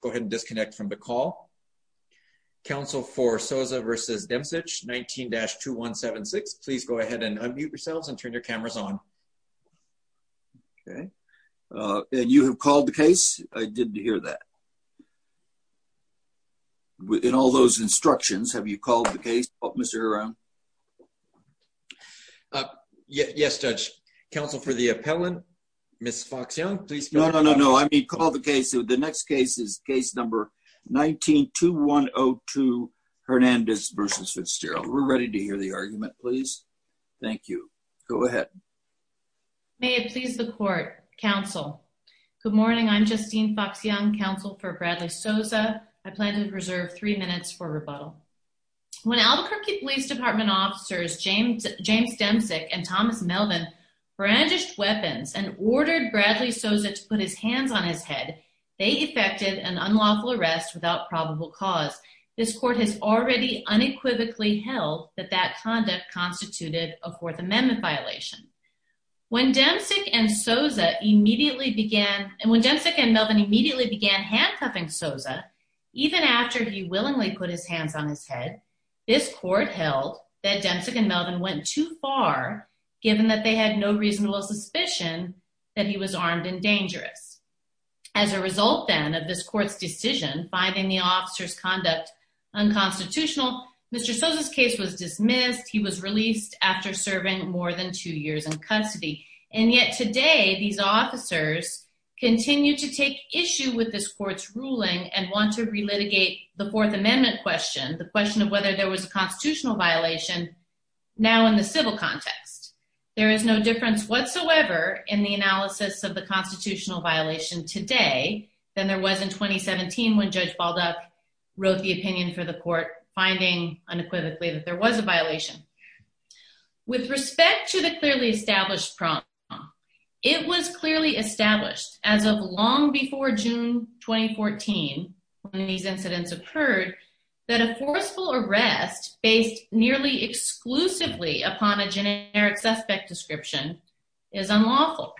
go ahead and disconnect from the call. Counsel for Soza v. Demsich, 19-2176, please go ahead and unmute yourselves and turn your cameras on. Okay. And you have called the case? I did hear that. In all those instructions, have you called the case, Mr. Hiram? Yes, Judge. Counsel for the appellant, Ms. Fox-Young, please. No, no, no, no. I mean, call the case. The next case is case number 19-2102, Hernandez v. Fitzgerald. We're ready to hear the argument, please. Thank you. Go ahead. May it please the Court, Counsel. Good morning. I'm Justine Fox-Young, Counsel for Bradley Soza. I plan to reserve three minutes for rebuttal. When Albuquerque Police Department officers James Demsich and Thomas Melvin brandished weapons and ordered Bradley Soza to put his hands on his head, they effected an unlawful arrest without probable cause. This court has already unequivocally held that that conduct constituted a Fourth Amendment violation. When Demsich and Soza immediately began, and when Demsich and Melvin immediately began handcuffing Soza, even after he willingly put his hands on his head, this court held that Demsich and Melvin went too far, given that they had no reasonable suspicion that he was armed and dangerous. As a result, then, of this court's decision, finding the officers' conduct unconstitutional, Mr. Soza's case was dismissed. He was released after serving more than two years in custody. And yet today, these officers continue to take issue with this court's ruling and want to relitigate the Fourth Amendment question, the question of whether there was a constitutional violation, now in the civil context. There is no difference whatsoever in the analysis of the constitutional violation today than there was in 2017, when Judge Balduck wrote the opinion for the court, finding unequivocally that there was a violation. With respect to the clearly established problem, it was clearly established as of long before June 2014, when these incidents occurred, that a forceful arrest based nearly exclusively upon a is unlawful.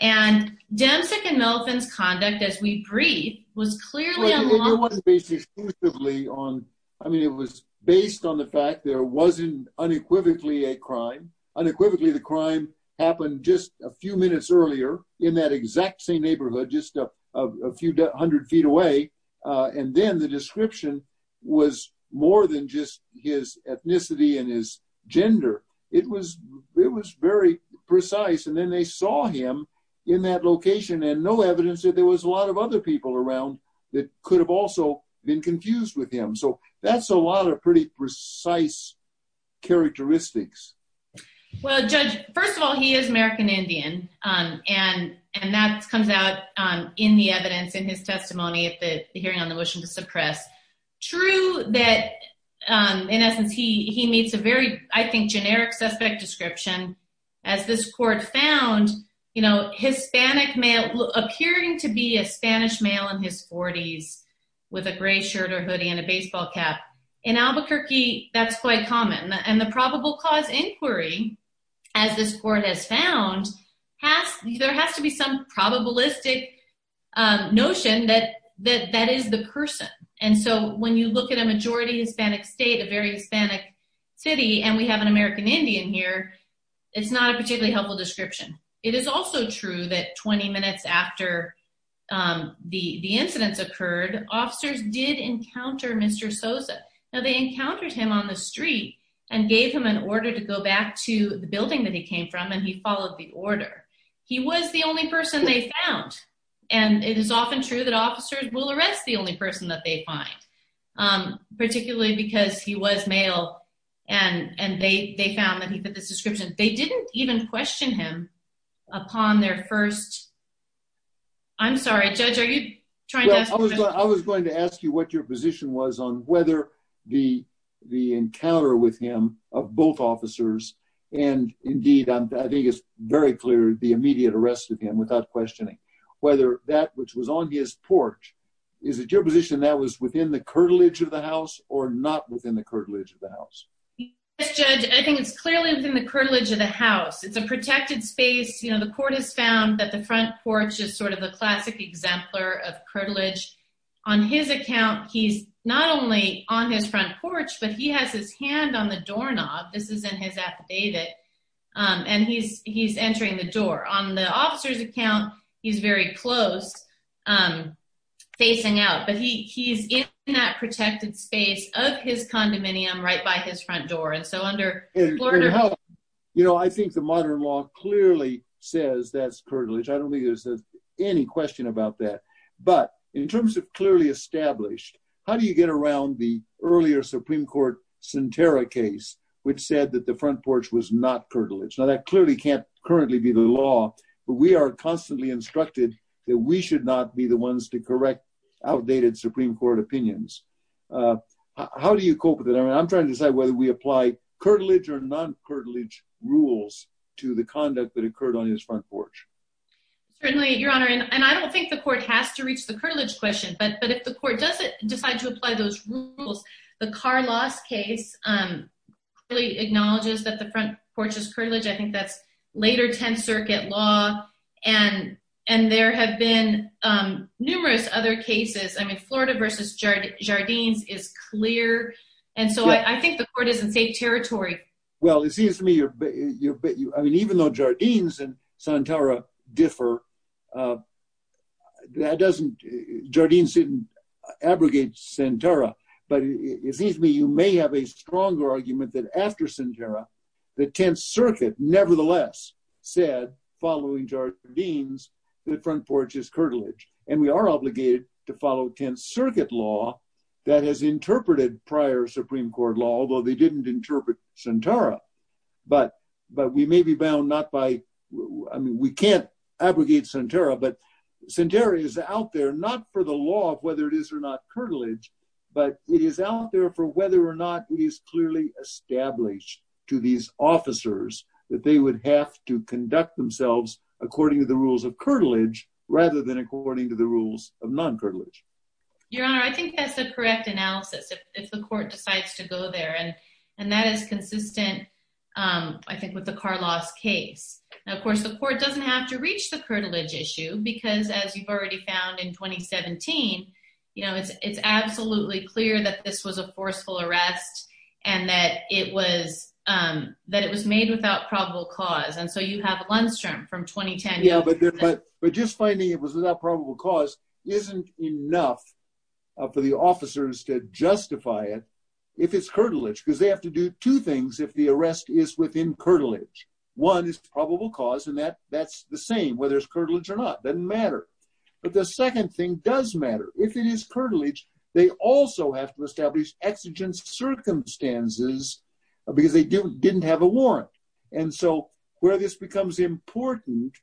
And Demsich and Melvin's conduct, as we breathe, was clearly unlawful. It wasn't based exclusively on, I mean, it was based on the fact there wasn't unequivocally a crime. Unequivocally, the crime happened just a few minutes earlier, in that exact same neighborhood, just a few hundred feet away. And then the description was more than just his ethnicity and his gender. It was, it was very precise. And then they saw him in that location, and no evidence that there was a lot of other people around that could have also been confused with him. So that's a lot of pretty precise characteristics. Well, Judge, first of all, he is American Indian. And, and that comes out in the evidence in his testimony at the hearing on the motion to suppress. True that, in generic suspect description, as this court found, you know, Hispanic male appearing to be a Spanish male in his 40s, with a gray shirt or hoodie and a baseball cap. In Albuquerque, that's quite common. And the probable cause inquiry, as this court has found, has there has to be some probabilistic notion that that that is the person. And so when you look at a majority Hispanic state, a very Hispanic city, and we have an American Indian here, it's not a particularly helpful description. It is also true that 20 minutes after the incidents occurred, officers did encounter Mr. Sosa. Now they encountered him on the street, and gave him an order to go back to the building that he came from, and he followed the order. He was the only person they found. And it is often true that officers will arrest the only person that they find, particularly because he was male. And and they they found that he put this description, they didn't even question him upon their first. I'm sorry, Judge, are you trying? I was going to ask you what your position was on whether the the encounter with him of both officers, and indeed, I think it's very clear the immediate arrest of him without questioning whether that which was on his porch. Is it your position that was within the curtilage of the house or not within the curtilage of the house? Yes, Judge, I think it's clearly within the curtilage of the house. It's a protected space. You know, the court has found that the front porch is sort of a classic exemplar of curtilage. On his account, he's not only on his front porch, but he has his hand on the doorknob. This is in his affidavit. And he's entering the door on the officer's account. He's very close. I'm facing out but he's in that protected space of his condominium right by his front door. And so under you know, I think the modern law clearly says that's curtilage. I don't think there's any question about that. But in terms of clearly established, how do you get around the earlier Supreme Court Sentara case, which said that the front really can't currently be the law, but we are constantly instructed that we should not be the ones to correct outdated Supreme Court opinions. How do you cope with it? I mean, I'm trying to decide whether we apply curtilage or non curtilage rules to the conduct that occurred on his front porch. Certainly, Your Honor, and I don't think the court has to reach the curtilage question. But but if the court doesn't decide to apply those rules, the car loss case really acknowledges that the front porch is curtilage. I think that's later 10th Circuit law. And, and there have been numerous other cases, I mean, Florida versus Jardines is clear. And so I think the court is in safe territory. Well, it seems to me you're, I mean, even though Jardines and Sentara differ. That doesn't, Jardines didn't abrogate Sentara. But it seems to me you may have a stronger argument that after Sentara, the 10th Circuit nevertheless said, following Jardines, the front porch is curtilage. And we are obligated to follow 10th Circuit law that has interpreted prior Supreme Court law, although they didn't interpret Sentara. But, but we may be bound not by, I mean, we can't abrogate Sentara, but Sentara is out there, not for the law of whether it is or not curtilage, but it is out there for whether or not it is clearly established to these officers that they would have to conduct themselves according to the rules of curtilage rather than according to the rules of non-curtilage. Your Honor, I think that's the correct analysis, if the court decides to go there. And, and that is consistent, I think, with the car loss case. And of course, it's not a non-curtilage issue, because as you've already found in 2017, you know, it's, it's absolutely clear that this was a forceful arrest, and that it was, that it was made without probable cause. And so you have Lundstrom from 2010. Yeah, but, but just finding it was without probable cause isn't enough for the officers to justify it, if it's curtilage, because they have to do two things. One, it doesn't matter if it's curtilage or not, doesn't matter. But the second thing does matter, if it is curtilage, they also have to establish exigent circumstances, because they didn't have a warrant. And so where this becomes important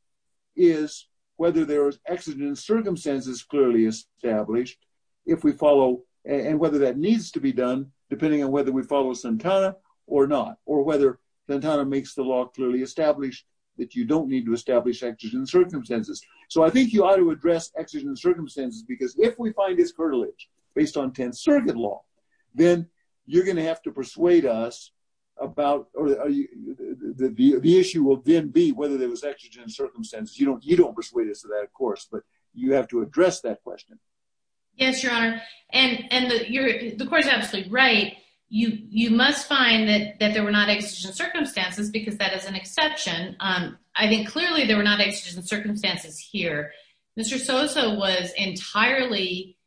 is whether there is exigent circumstances clearly established, if we follow, and whether that needs to be done, depending on whether we follow Sentara or not, or whether Sentara makes the law clearly established, that you don't need to establish exigent circumstances. So I think you ought to address exigent circumstances, because if we find it's curtilage, based on 10th Circuit law, then you're going to have to persuade us about, or the issue will then be whether there was exigent circumstances. You don't, you don't persuade us of that, of course, but you have to address that question. Yes, Your Honor. And, and you're, the court is absolutely right. You, you must find that that there were not exigent circumstances, because that is an exception. I think clearly there were not exigent circumstances here. Mr. Sosa was entirely,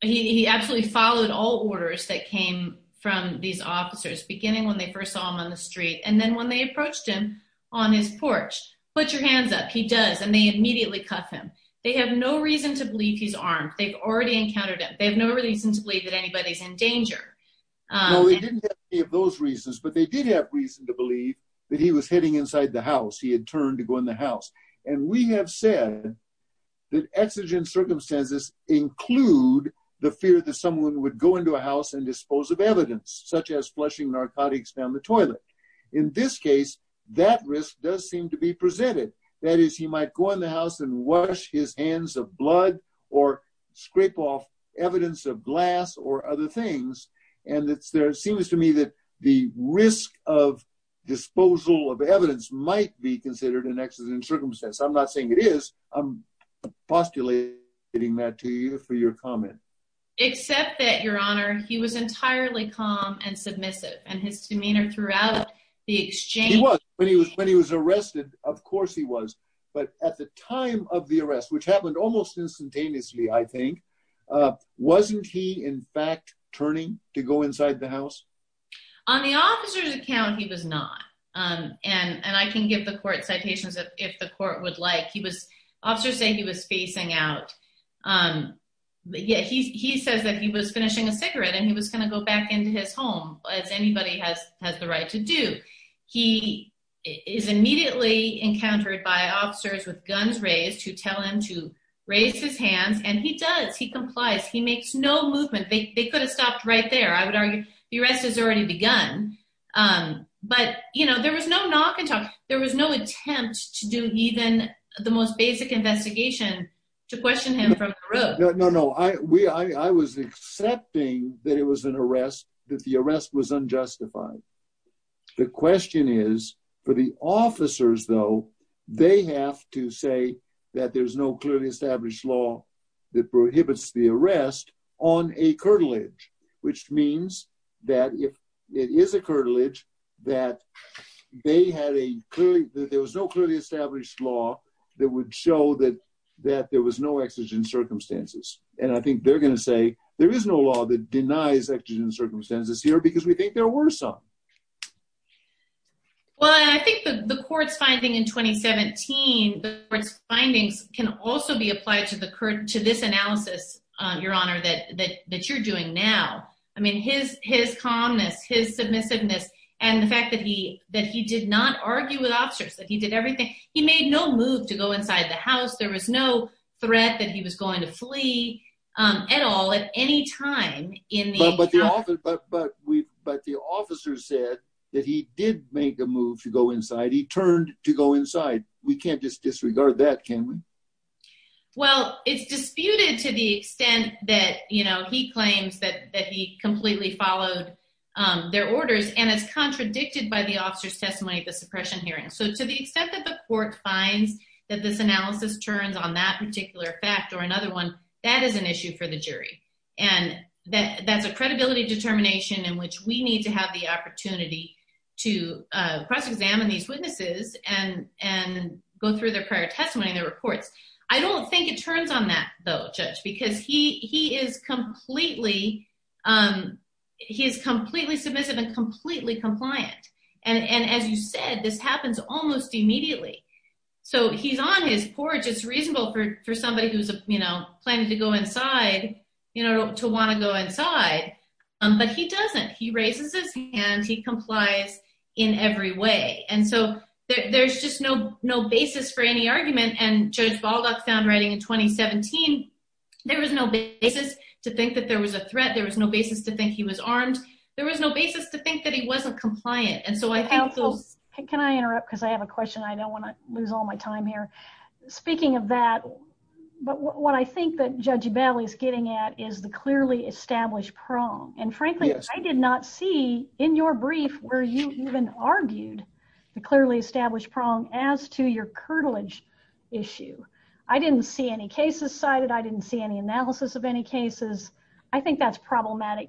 he absolutely followed all orders that came from these officers beginning when they first saw him on the street, and then when they approached him on his porch, put your hands up, he does and they immediately cuff him. They have no reason to believe he's armed, they've already encountered it, they have no reason to believe that anybody's in danger. No, they didn't have any of those reasons, but they did have reason to believe that he was hitting inside the house, he had turned to go in the house. And we have said that exigent circumstances include the fear that someone would go into a house and dispose of evidence, such as flushing narcotics down the toilet. In this case, that risk does seem to be presented. That is, he might go in the house and wash his hands of blood, or scrape off evidence of glass or other things. And it's there, it seems to me that the risk of disposal of evidence might be considered an exigent circumstance. I'm not saying it is, I'm postulating that to you for your comment. Except that, Your Honor, he was entirely calm and submissive, and his demeanor throughout the exchange... He was. When he was arrested, of course he was. But at the time of the arrest, which happened almost instantaneously, I think, wasn't he in fact turning to go inside the house? On the officer's account, he was not. And I can give the court citations if the court would like. He was... Officers say he was facing out. Yet he says that he was finishing a cigarette and he was going to go back into his home, as anybody has the right to do. He is immediately encountered by officers with whom to raise his hands. And he does. He complies. He makes no movement. They could have stopped right there, I would argue. The arrest has already begun. But you know, there was no knock and talk. There was no attempt to do even the most basic investigation to question him from the road. No, no, no. I was accepting that it was an arrest, that the arrest was unjustified. The question is, for the officers, though, they have to say that there's no clearly established law that prohibits the arrest on a curtilage, which means that if it is a curtilage, that they had a clearly... that there was no clearly established law that would show that there was no exigent circumstances. And I think they're going to say, there is no law that denies exigent circumstances here because we think there were some. Well, I think the court's finding in 2017, the court's findings can also be applied to this analysis, Your Honor, that you're doing now. I mean, his calmness, his submissiveness, and the fact that he did not argue with officers, that he did everything. He made no move to go inside the house. There was no threat that he was going to flee at all at any time in the... But the officer said that he did make a move to go inside. He turned to go inside. We can't just disregard that, can we? Well, it's disputed to the extent that, you know, he claims that he completely followed their orders, and it's contradicted by the officer's testimony at the suppression hearing. So to the extent that the court finds that this analysis turns on that particular fact or another one, that is an issue for the determination in which we need to have the opportunity to cross examine these witnesses and go through their prior testimony, their reports. I don't think it turns on that, though, Judge, because he is completely submissive and completely compliant. And as you said, this happens almost immediately. So he's on his porch. It's reasonable for somebody who's planning to go inside to want to go inside. But he doesn't. He raises his hand. He complies in every way. And so there's just no basis for any argument. And Judge Baldock found writing in 2017, there was no basis to think that there was a threat. There was no basis to think he was armed. There was no basis to think that he wasn't compliant. And so I think those... Can I interrupt? Because I have a question. I don't want to lose all my time here. Speaking of that, but what I think that Judge Ebali is getting at is the clearly established prong. And frankly, I did not see in your brief where you even argued the clearly established prong as to your curtilage issue. I didn't see any cases cited. I didn't see any analysis of any cases. I think that's problematic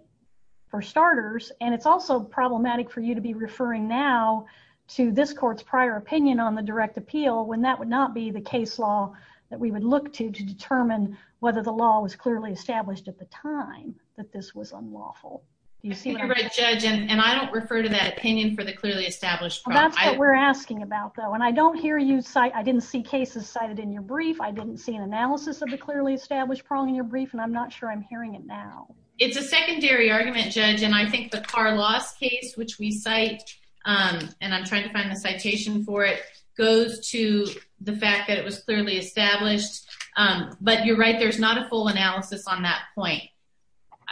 for starters. And it's also problematic for you to be referring now to this court's prior opinion on the direct appeal when that would not be the case law that we would look to to determine whether the law was time that this was unlawful. You're right, Judge. And I don't refer to that opinion for the clearly established prong. That's what we're asking about, though. And I don't hear you cite... I didn't see cases cited in your brief. I didn't see an analysis of the clearly established prong in your brief. And I'm not sure I'm hearing it now. It's a secondary argument, Judge. And I think the Carr loss case, which we cite, and I'm trying to find the citation for it, goes to the fact that it was clearly established. But you're right, there's not a full analysis on that point.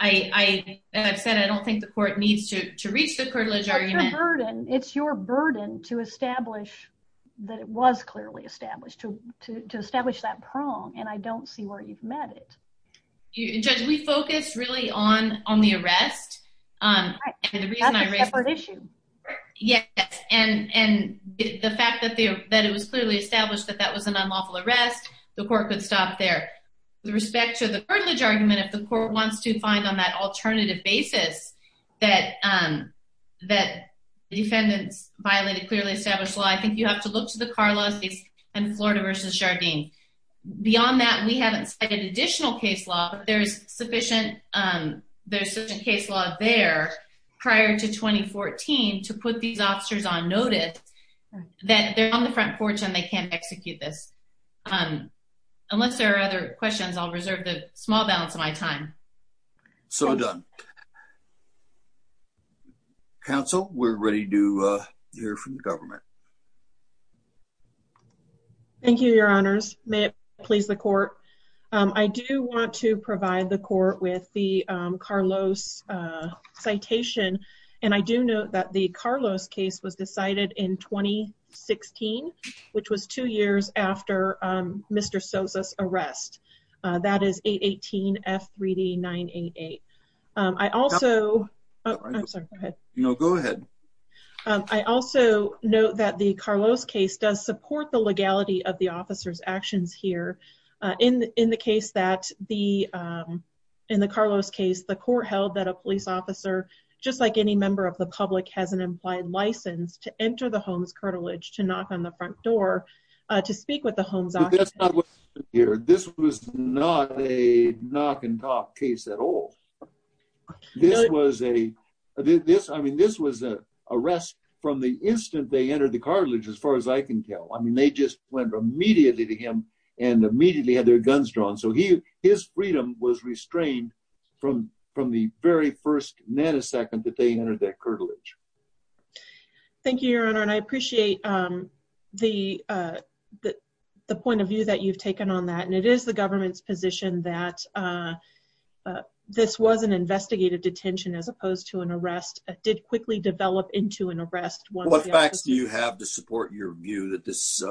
I, as I've said, I don't think the court needs to reach the curtilage argument. It's your burden. It's your burden to establish that it was clearly established, to establish that prong. And I don't see where you've met it. Judge, we focus really on the arrest. Right. That's a separate issue. Yes. And the fact that it was clearly established that that was an unlawful arrest, the court could stop there. With respect to the curtilage argument, if the court wants to find on that alternative basis that the defendants violated clearly established law, I think you have to look to the Carr loss case and Florida versus Jardim. Beyond that, we haven't cited additional case law, but there's sufficient case law there prior to 2014 to put these officers on notice that they're on the front porch and they can't execute this. Unless there are other questions, I'll reserve the small balance of my time. So done. Council, we're ready to hear from the government. Thank you, Your Honors may please the court. I do want to provide the court with the Carlos citation. And I do know that the Carlos case was decided in 2016, which was two years after Mr. Sosa's arrest. That is 818 F3D 988. I also I'm sorry. No, go ahead. I also know that the Carlos case does support the legality of the officer's actions here. In the case that the in the Carlos case, the court held that a police officer, just like any member of the public has an implied license to enter the home's cartilage to knock on the front door to speak with the home's office here. This was not a knock and talk case at all. This was a this I mean, this was a arrest from the instant they entered the cartilage as far as I can tell. I mean, they just went immediately to him and immediately had their guns drawn. So he his freedom was restrained from from the very first nanosecond that they entered that cartilage. Thank you, Your Honor. And I appreciate the the point of view that you've taken on that. And it is the government's position that this was an investigative detention as opposed to an arrest did quickly develop into an arrest. What facts do you have to support your view that this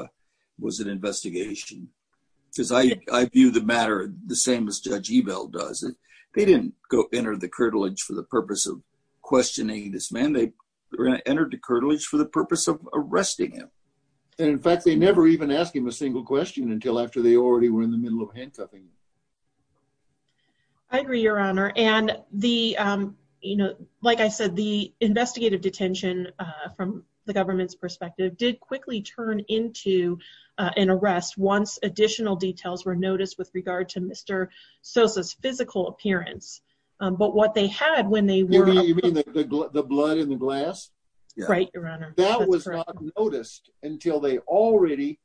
was an investigation? Because I view the matter the same as Judge Ebel does it. They didn't go enter the cartilage for the purpose of questioning this man. They entered the cartilage for the purpose of arresting him. And in fact, they never even asked him a single question until after they already were in the middle of handcuffing. I agree, Your Honor. And the, you know, like I said, the investigative detention from the government's perspective did quickly turn into an arrest once additional details were noticed with regard to Mr. Sosa's physical appearance. But what they had when they were you mean the blood in the glass? Right, Your Honor. That was not noticed until they already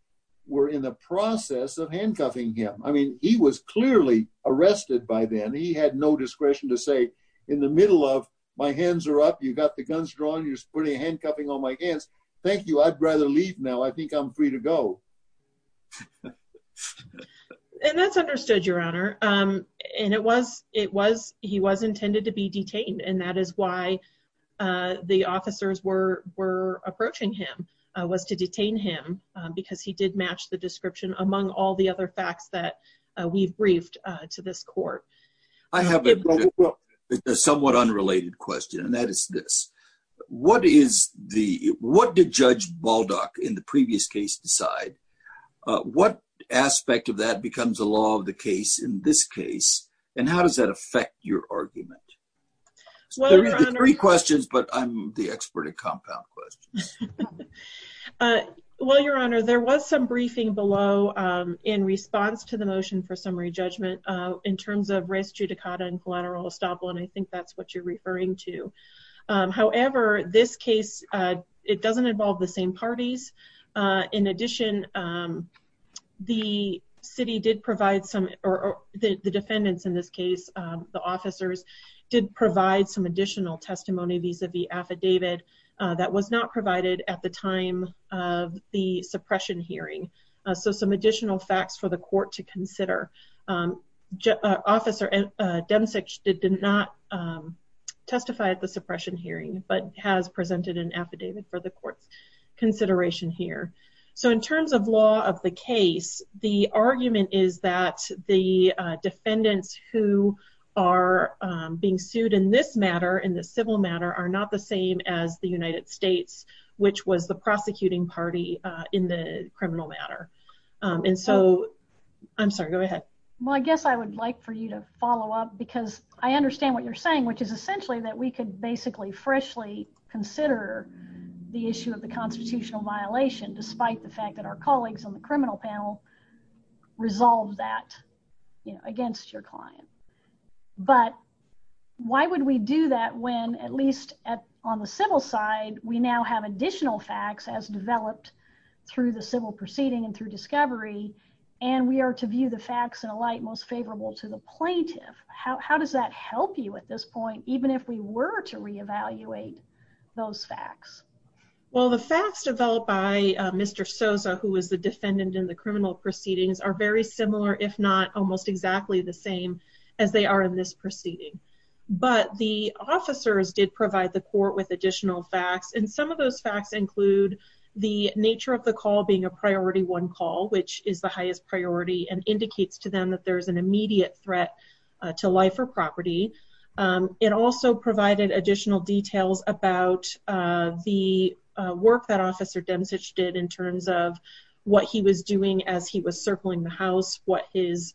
were in the process of handcuffing him. I mean, he was clearly arrested by then he had no discretion to say in the middle of my hands are up. You got the guns drawn. You're putting handcuffing on my hands. Thank you. I'd rather leave now. I think I'm free to go. And that's understood, Your Honor. And it was it was he was intended to be detained. And that is why the officers were were approaching him was to detain him because he did match the description among all the other facts that we've briefed to this court. I have a somewhat unrelated question. And that is this. What is the what did Judge Baldock in the previous case decide? What aspect of that becomes a law of the case in this case? And how does that three questions, but I'm the expert at compound questions. Well, Your Honor, there was some briefing below in response to the motion for summary judgment in terms of res judicata and collateral estoppel. And I think that's what you're referring to. However, this case, it doesn't involve the same parties. In addition, the city did provide some the defendants in this case, the officers did provide some additional testimony vis-a-vis affidavit that was not provided at the time of the suppression hearing. So some additional facts for the court to consider. Officer Demsic did not testify at the suppression hearing, but has presented an affidavit for the court's consideration here. So in terms of law of the case, the argument is that the defendants who are being sued in this matter in the civil matter are not the same as the United States, which was the prosecuting party in the criminal matter. And so I'm sorry, go ahead. Well, I guess I would like for you to follow up because I understand what you're saying, which is essentially that we could basically freshly consider the issue of the constitutional violation, despite the fact that our colleagues on the criminal panel resolved that against your client. But why would we do that when at least on the civil side, we now have additional facts as developed through the civil proceeding and through discovery, and we are to view the facts in a light most favorable to the plaintiff. How does that help you at this point, even if we were to reevaluate those facts? Well, the facts developed by Mr. Sosa, who was the defendant in the criminal proceedings, are very similar, if not almost exactly the same as they are in this proceeding. But the officers did provide the court with additional facts, and some of those facts include the nature of the call being a priority one call, which is the highest priority and indicates to them that there is an work that Officer Demsic did in terms of what he was doing as he was circling the house, what his,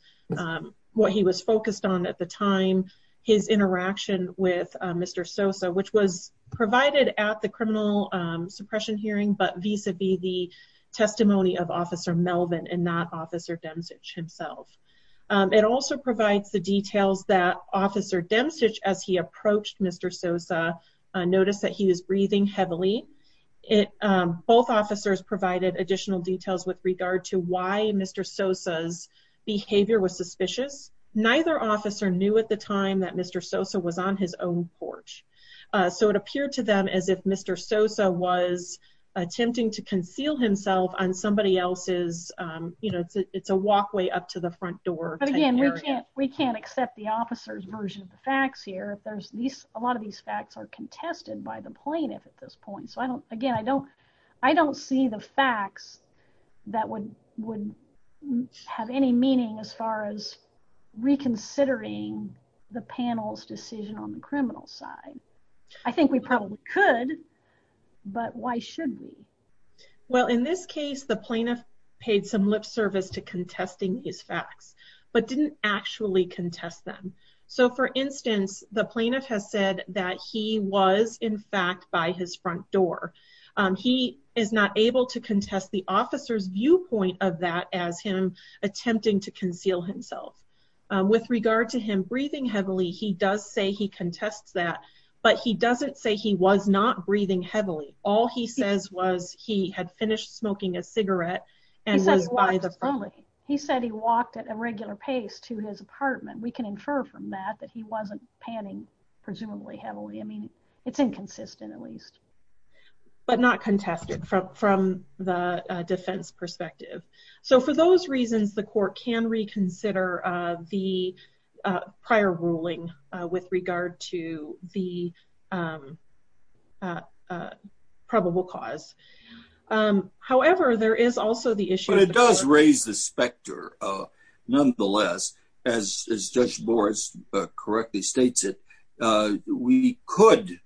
what he was focused on at the time, his interaction with Mr. Sosa, which was provided at the criminal suppression hearing, but vis-a-vis the testimony of Officer Melvin and not Officer Demsic himself. It also provides the details that Officer Demsic, as he approached Mr. Sosa, noticed that he was breathing heavily. It, both officers provided additional details with regard to why Mr. Sosa's behavior was suspicious. Neither officer knew at the time that Mr. Sosa was on his own porch, so it appeared to them as if Mr. Sosa was attempting to conceal himself on somebody else's, you know, it's a walkway up to the front door. But again, we can't, we can't accept the fact that these facts are contested by the plaintiff at this point, so I don't, again, I don't, I don't see the facts that would, would have any meaning as far as reconsidering the panel's decision on the criminal side. I think we probably could, but why should we? Well, in this case, the plaintiff paid some lip service to contesting these facts, but didn't actually contest them. So, for instance, the plaintiff has said that he was, in fact, by his front door. He is not able to contest the officer's viewpoint of that as him attempting to conceal himself. With regard to him breathing heavily, he does say he contests that, but he doesn't say he was not breathing heavily. All he says was he had finished smoking a cigarette and was by the front. He said he walked at a regular pace to his apartment. We can infer from that that he wasn't panning presumably heavily. I mean, it's inconsistent, at least. But not contested from, from the defense perspective. So, for those reasons, the court can reconsider the prior ruling with regard to the probable cause. However, there is also the issue... But it does raise the specter. Nonetheless, as Judge Morris correctly states it, we could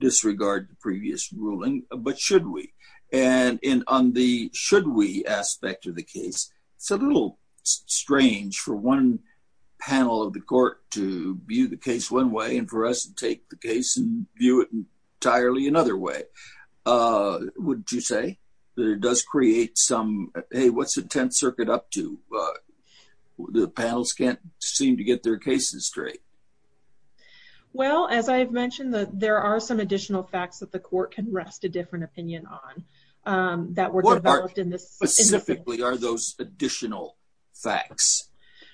disregard the previous ruling, but should we? And on the should we aspect of the case, it's a little strange for one panel of the court to view the case one and for us to take the case and view it entirely another way. Would you say that it does create some, hey, what's the Tenth Circuit up to? The panels can't seem to get their cases straight. Well, as I've mentioned that there are some additional facts that the court can rest a different opinion on that were developed in this... What part specifically are those additional facts?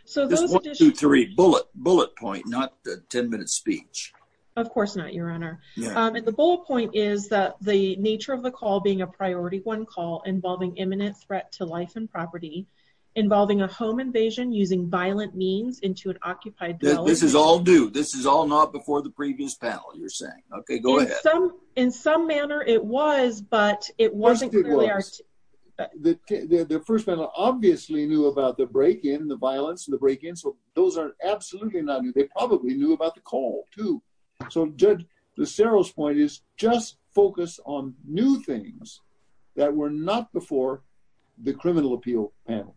So there's one, two, three bullet bullet point, not the 10 minute speech. Of course not, Your Honor. And the bullet point is that the nature of the call being a priority one call involving imminent threat to life and property, involving a home invasion using violent means into an occupied... This is all due, this is all not before the previous panel, you're saying. Okay, go ahead. In some manner it was, but it wasn't... The first panel obviously knew about the break-in, the violence and the break-in. So those are absolutely not new. They probably knew about the call too. So Judge Lucero's point is just focus on new things that were not before the criminal appeal panel.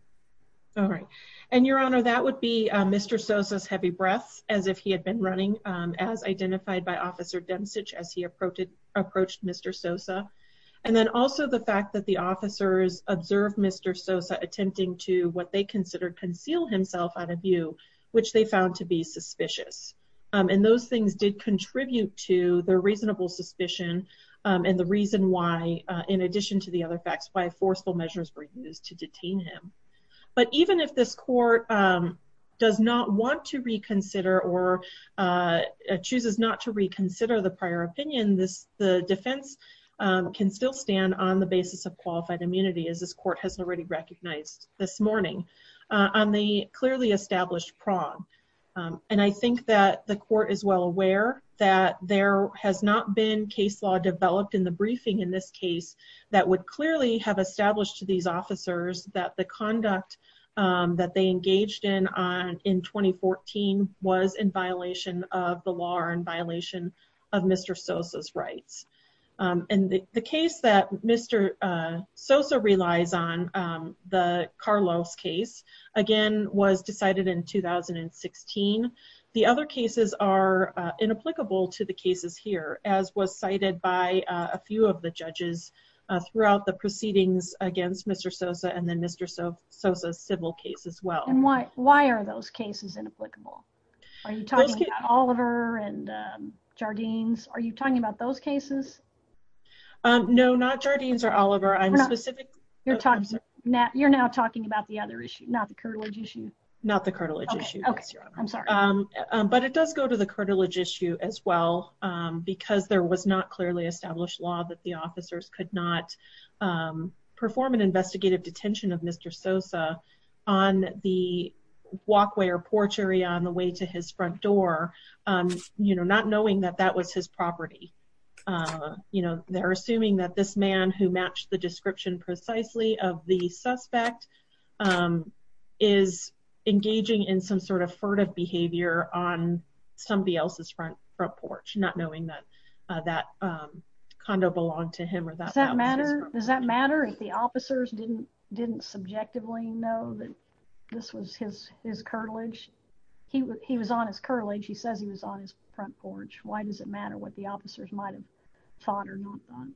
All right. And Your Honor, that would be Mr. Sosa's heavy breaths as if he had been running as identified by Officer Demsich as he approached Mr. Sosa. And then also the fact that the officers observed Mr. Sosa attempting to, what they considered, conceal himself out of view, which they found to be suspicious. And those things did contribute to the reasonable suspicion and the reason why, in addition to the other facts, why forceful measures were used to detain him. But even if this court does not want to reconsider or chooses not to can still stand on the basis of qualified immunity, as this court has already recognized this morning, on the clearly established prong. And I think that the court is well aware that there has not been case law developed in the briefing in this case that would clearly have established to these officers that the conduct that they engaged in in 2014 was in violation of the law and violation of Mr. Sosa's rights. And the case that Mr. Sosa relies on, the Carlos case, again, was decided in 2016. The other cases are inapplicable to the cases here, as was cited by a few of the judges throughout the proceedings against Mr. Sosa and then Mr. Sosa's civil case as well. And why are those cases inapplicable? Are you talking about Oliver and Jardines? Are you talking about those cases? No, not Jardines or Oliver. I'm specific. You're now talking about the other issue, not the cartilage issue. Not the cartilage issue. Okay. I'm sorry. But it does go to the cartilage issue as well, because there was not clearly established law that the officers could not perform an investigative detention of Mr. Sosa on the porch area on the way to his front door, not knowing that that was his property. They're assuming that this man who matched the description precisely of the suspect is engaging in some sort of furtive behavior on somebody else's front porch, not knowing that that condo belonged to him. Does that matter if the officers didn't subjectively know that this was his cartilage? He was on his cartilage. He says he was on his front porch. Why does it matter what the officers might have thought or not thought?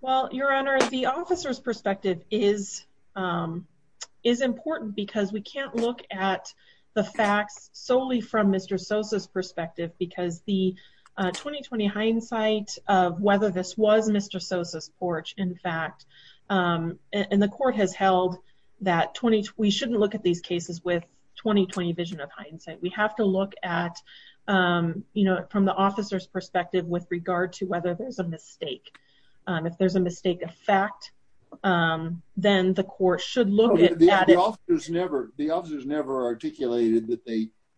Well, Your Honor, the officer's perspective is important because we can't look at the facts solely from Mr. Sosa's perspective, because the 2020 hindsight of whether this was Mr. Sosa's and the court has held that we shouldn't look at these cases with 2020 vision of hindsight. We have to look at, you know, from the officer's perspective with regard to whether there's a mistake. If there's a mistake of fact, then the court should look at it. The officers never articulated that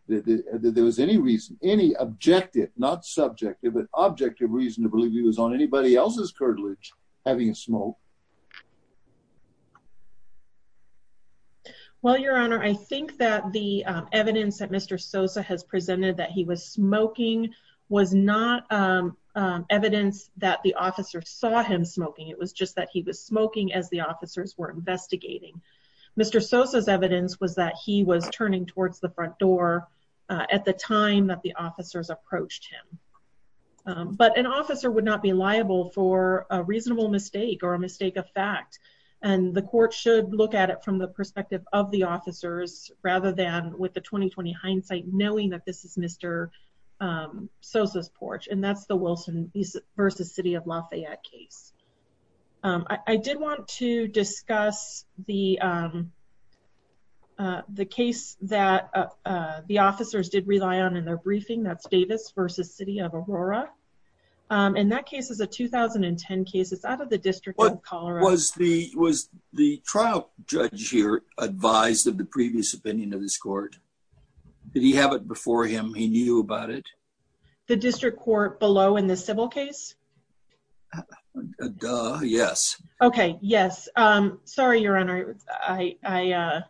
there was any reason, any objective, not subjective, objective reason to believe he was on anybody else's cartilage having a smoke. Well, Your Honor, I think that the evidence that Mr. Sosa has presented that he was smoking was not evidence that the officer saw him smoking. It was just that he was smoking as the officers were investigating. Mr. Sosa's evidence was that he was turning towards the but an officer would not be liable for a reasonable mistake or a mistake of fact, and the court should look at it from the perspective of the officers rather than with the 2020 hindsight knowing that this is Mr. Sosa's porch, and that's the Wilson versus City of Lafayette case. I did want to discuss the case that the officers did rely on in their In that case is a 2010 case. It's out of the District of Colorado. Was the trial judge here advised of the previous opinion of this court? Did he have it before him? He knew about it? The district court below in the civil case? Duh, yes. Okay, yes. Sorry, Your Honor. I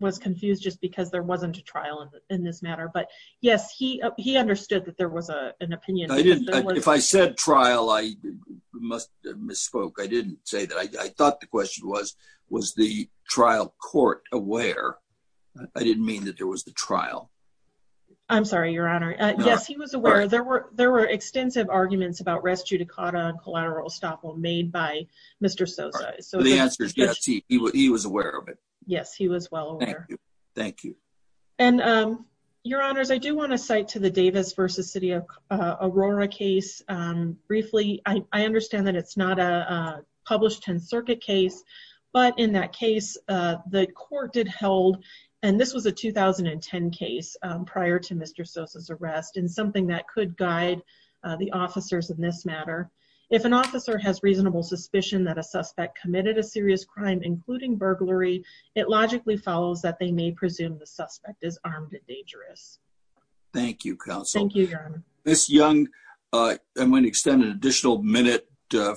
was confused just because there wasn't a trial in this matter, but yes, he understood that there was an opinion. If I said trial, I must have misspoke. I didn't say that. I thought the question was, was the trial court aware? I didn't mean that there was the trial. I'm sorry, Your Honor. Yes, he was aware. There were extensive arguments about res judicata and collateral estoppel made by Mr. Sosa. The answer is yes, he was aware of it. Yes, he was well aware. Thank you. And Your Honors, I do want to cite to the Davis versus City of Aurora case. Briefly, I understand that it's not a published 10th Circuit case, but in that case, the court did held, and this was a 2010 case prior to Mr. Sosa's arrest, and something that could guide the officers in this matter. If an officer has reasonable suspicion that a suspect committed a serious crime, including burglary, it logically follows that they may presume the suspect is armed and dangerous. Thank you, counsel. Thank you, Your Honor. Miss Young, I'm going to extend an additional minute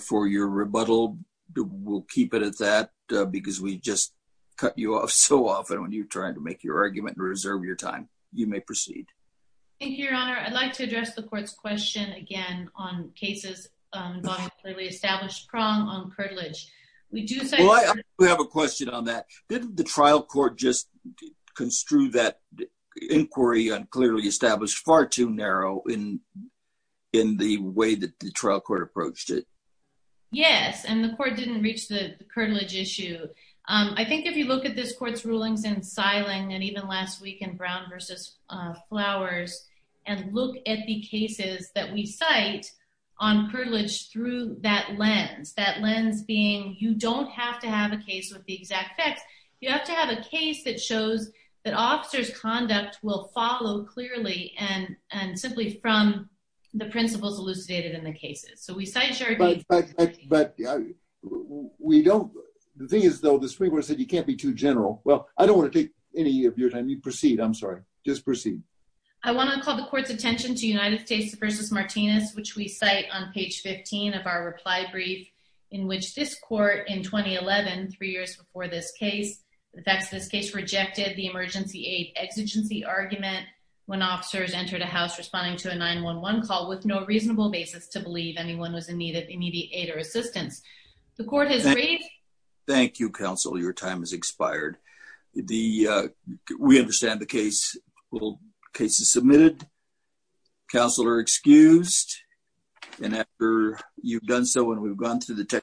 for your rebuttal. We'll keep it at that because we just cut you off so often when you're trying to make your argument and reserve your time. You may proceed. Thank you, Your Honor. I'd like to address the court's question again on cases involving clearly established prong on curtilage. We do have a question on that. Didn't the trial court just construe that inquiry on clearly established far too narrow in the way that the trial court approached it? Yes, and the court didn't reach the curtilage issue. I think if you look at this court's rulings in Siling and even last week in Brown versus Flowers and look at the cases that we cite on curtilage through that lens, that lens being you don't have to have a case with the exact facts. You have to have a case that shows that officer's conduct will follow clearly and simply from the principles elucidated in the cases. So we cite... But the thing is, though, the Supreme Court said you can't be too general. Well, I don't want to take any of your time. You proceed. I'm sorry. Just proceed. I want to call the court's attention to United States versus Martinez, which we cite on page 15 of our reply brief, in which this court in 2011, three years before this case, the facts of this case rejected the emergency aid exigency argument when officers entered a house responding to a 9-1-1 call with no reasonable basis to believe anyone was in need of immediate aid or assistance. The court has agreed... Thank you, counsel. Your time has expired. We understand the case is submitted. Counsel are excused. And after you've done so and we've gone through the...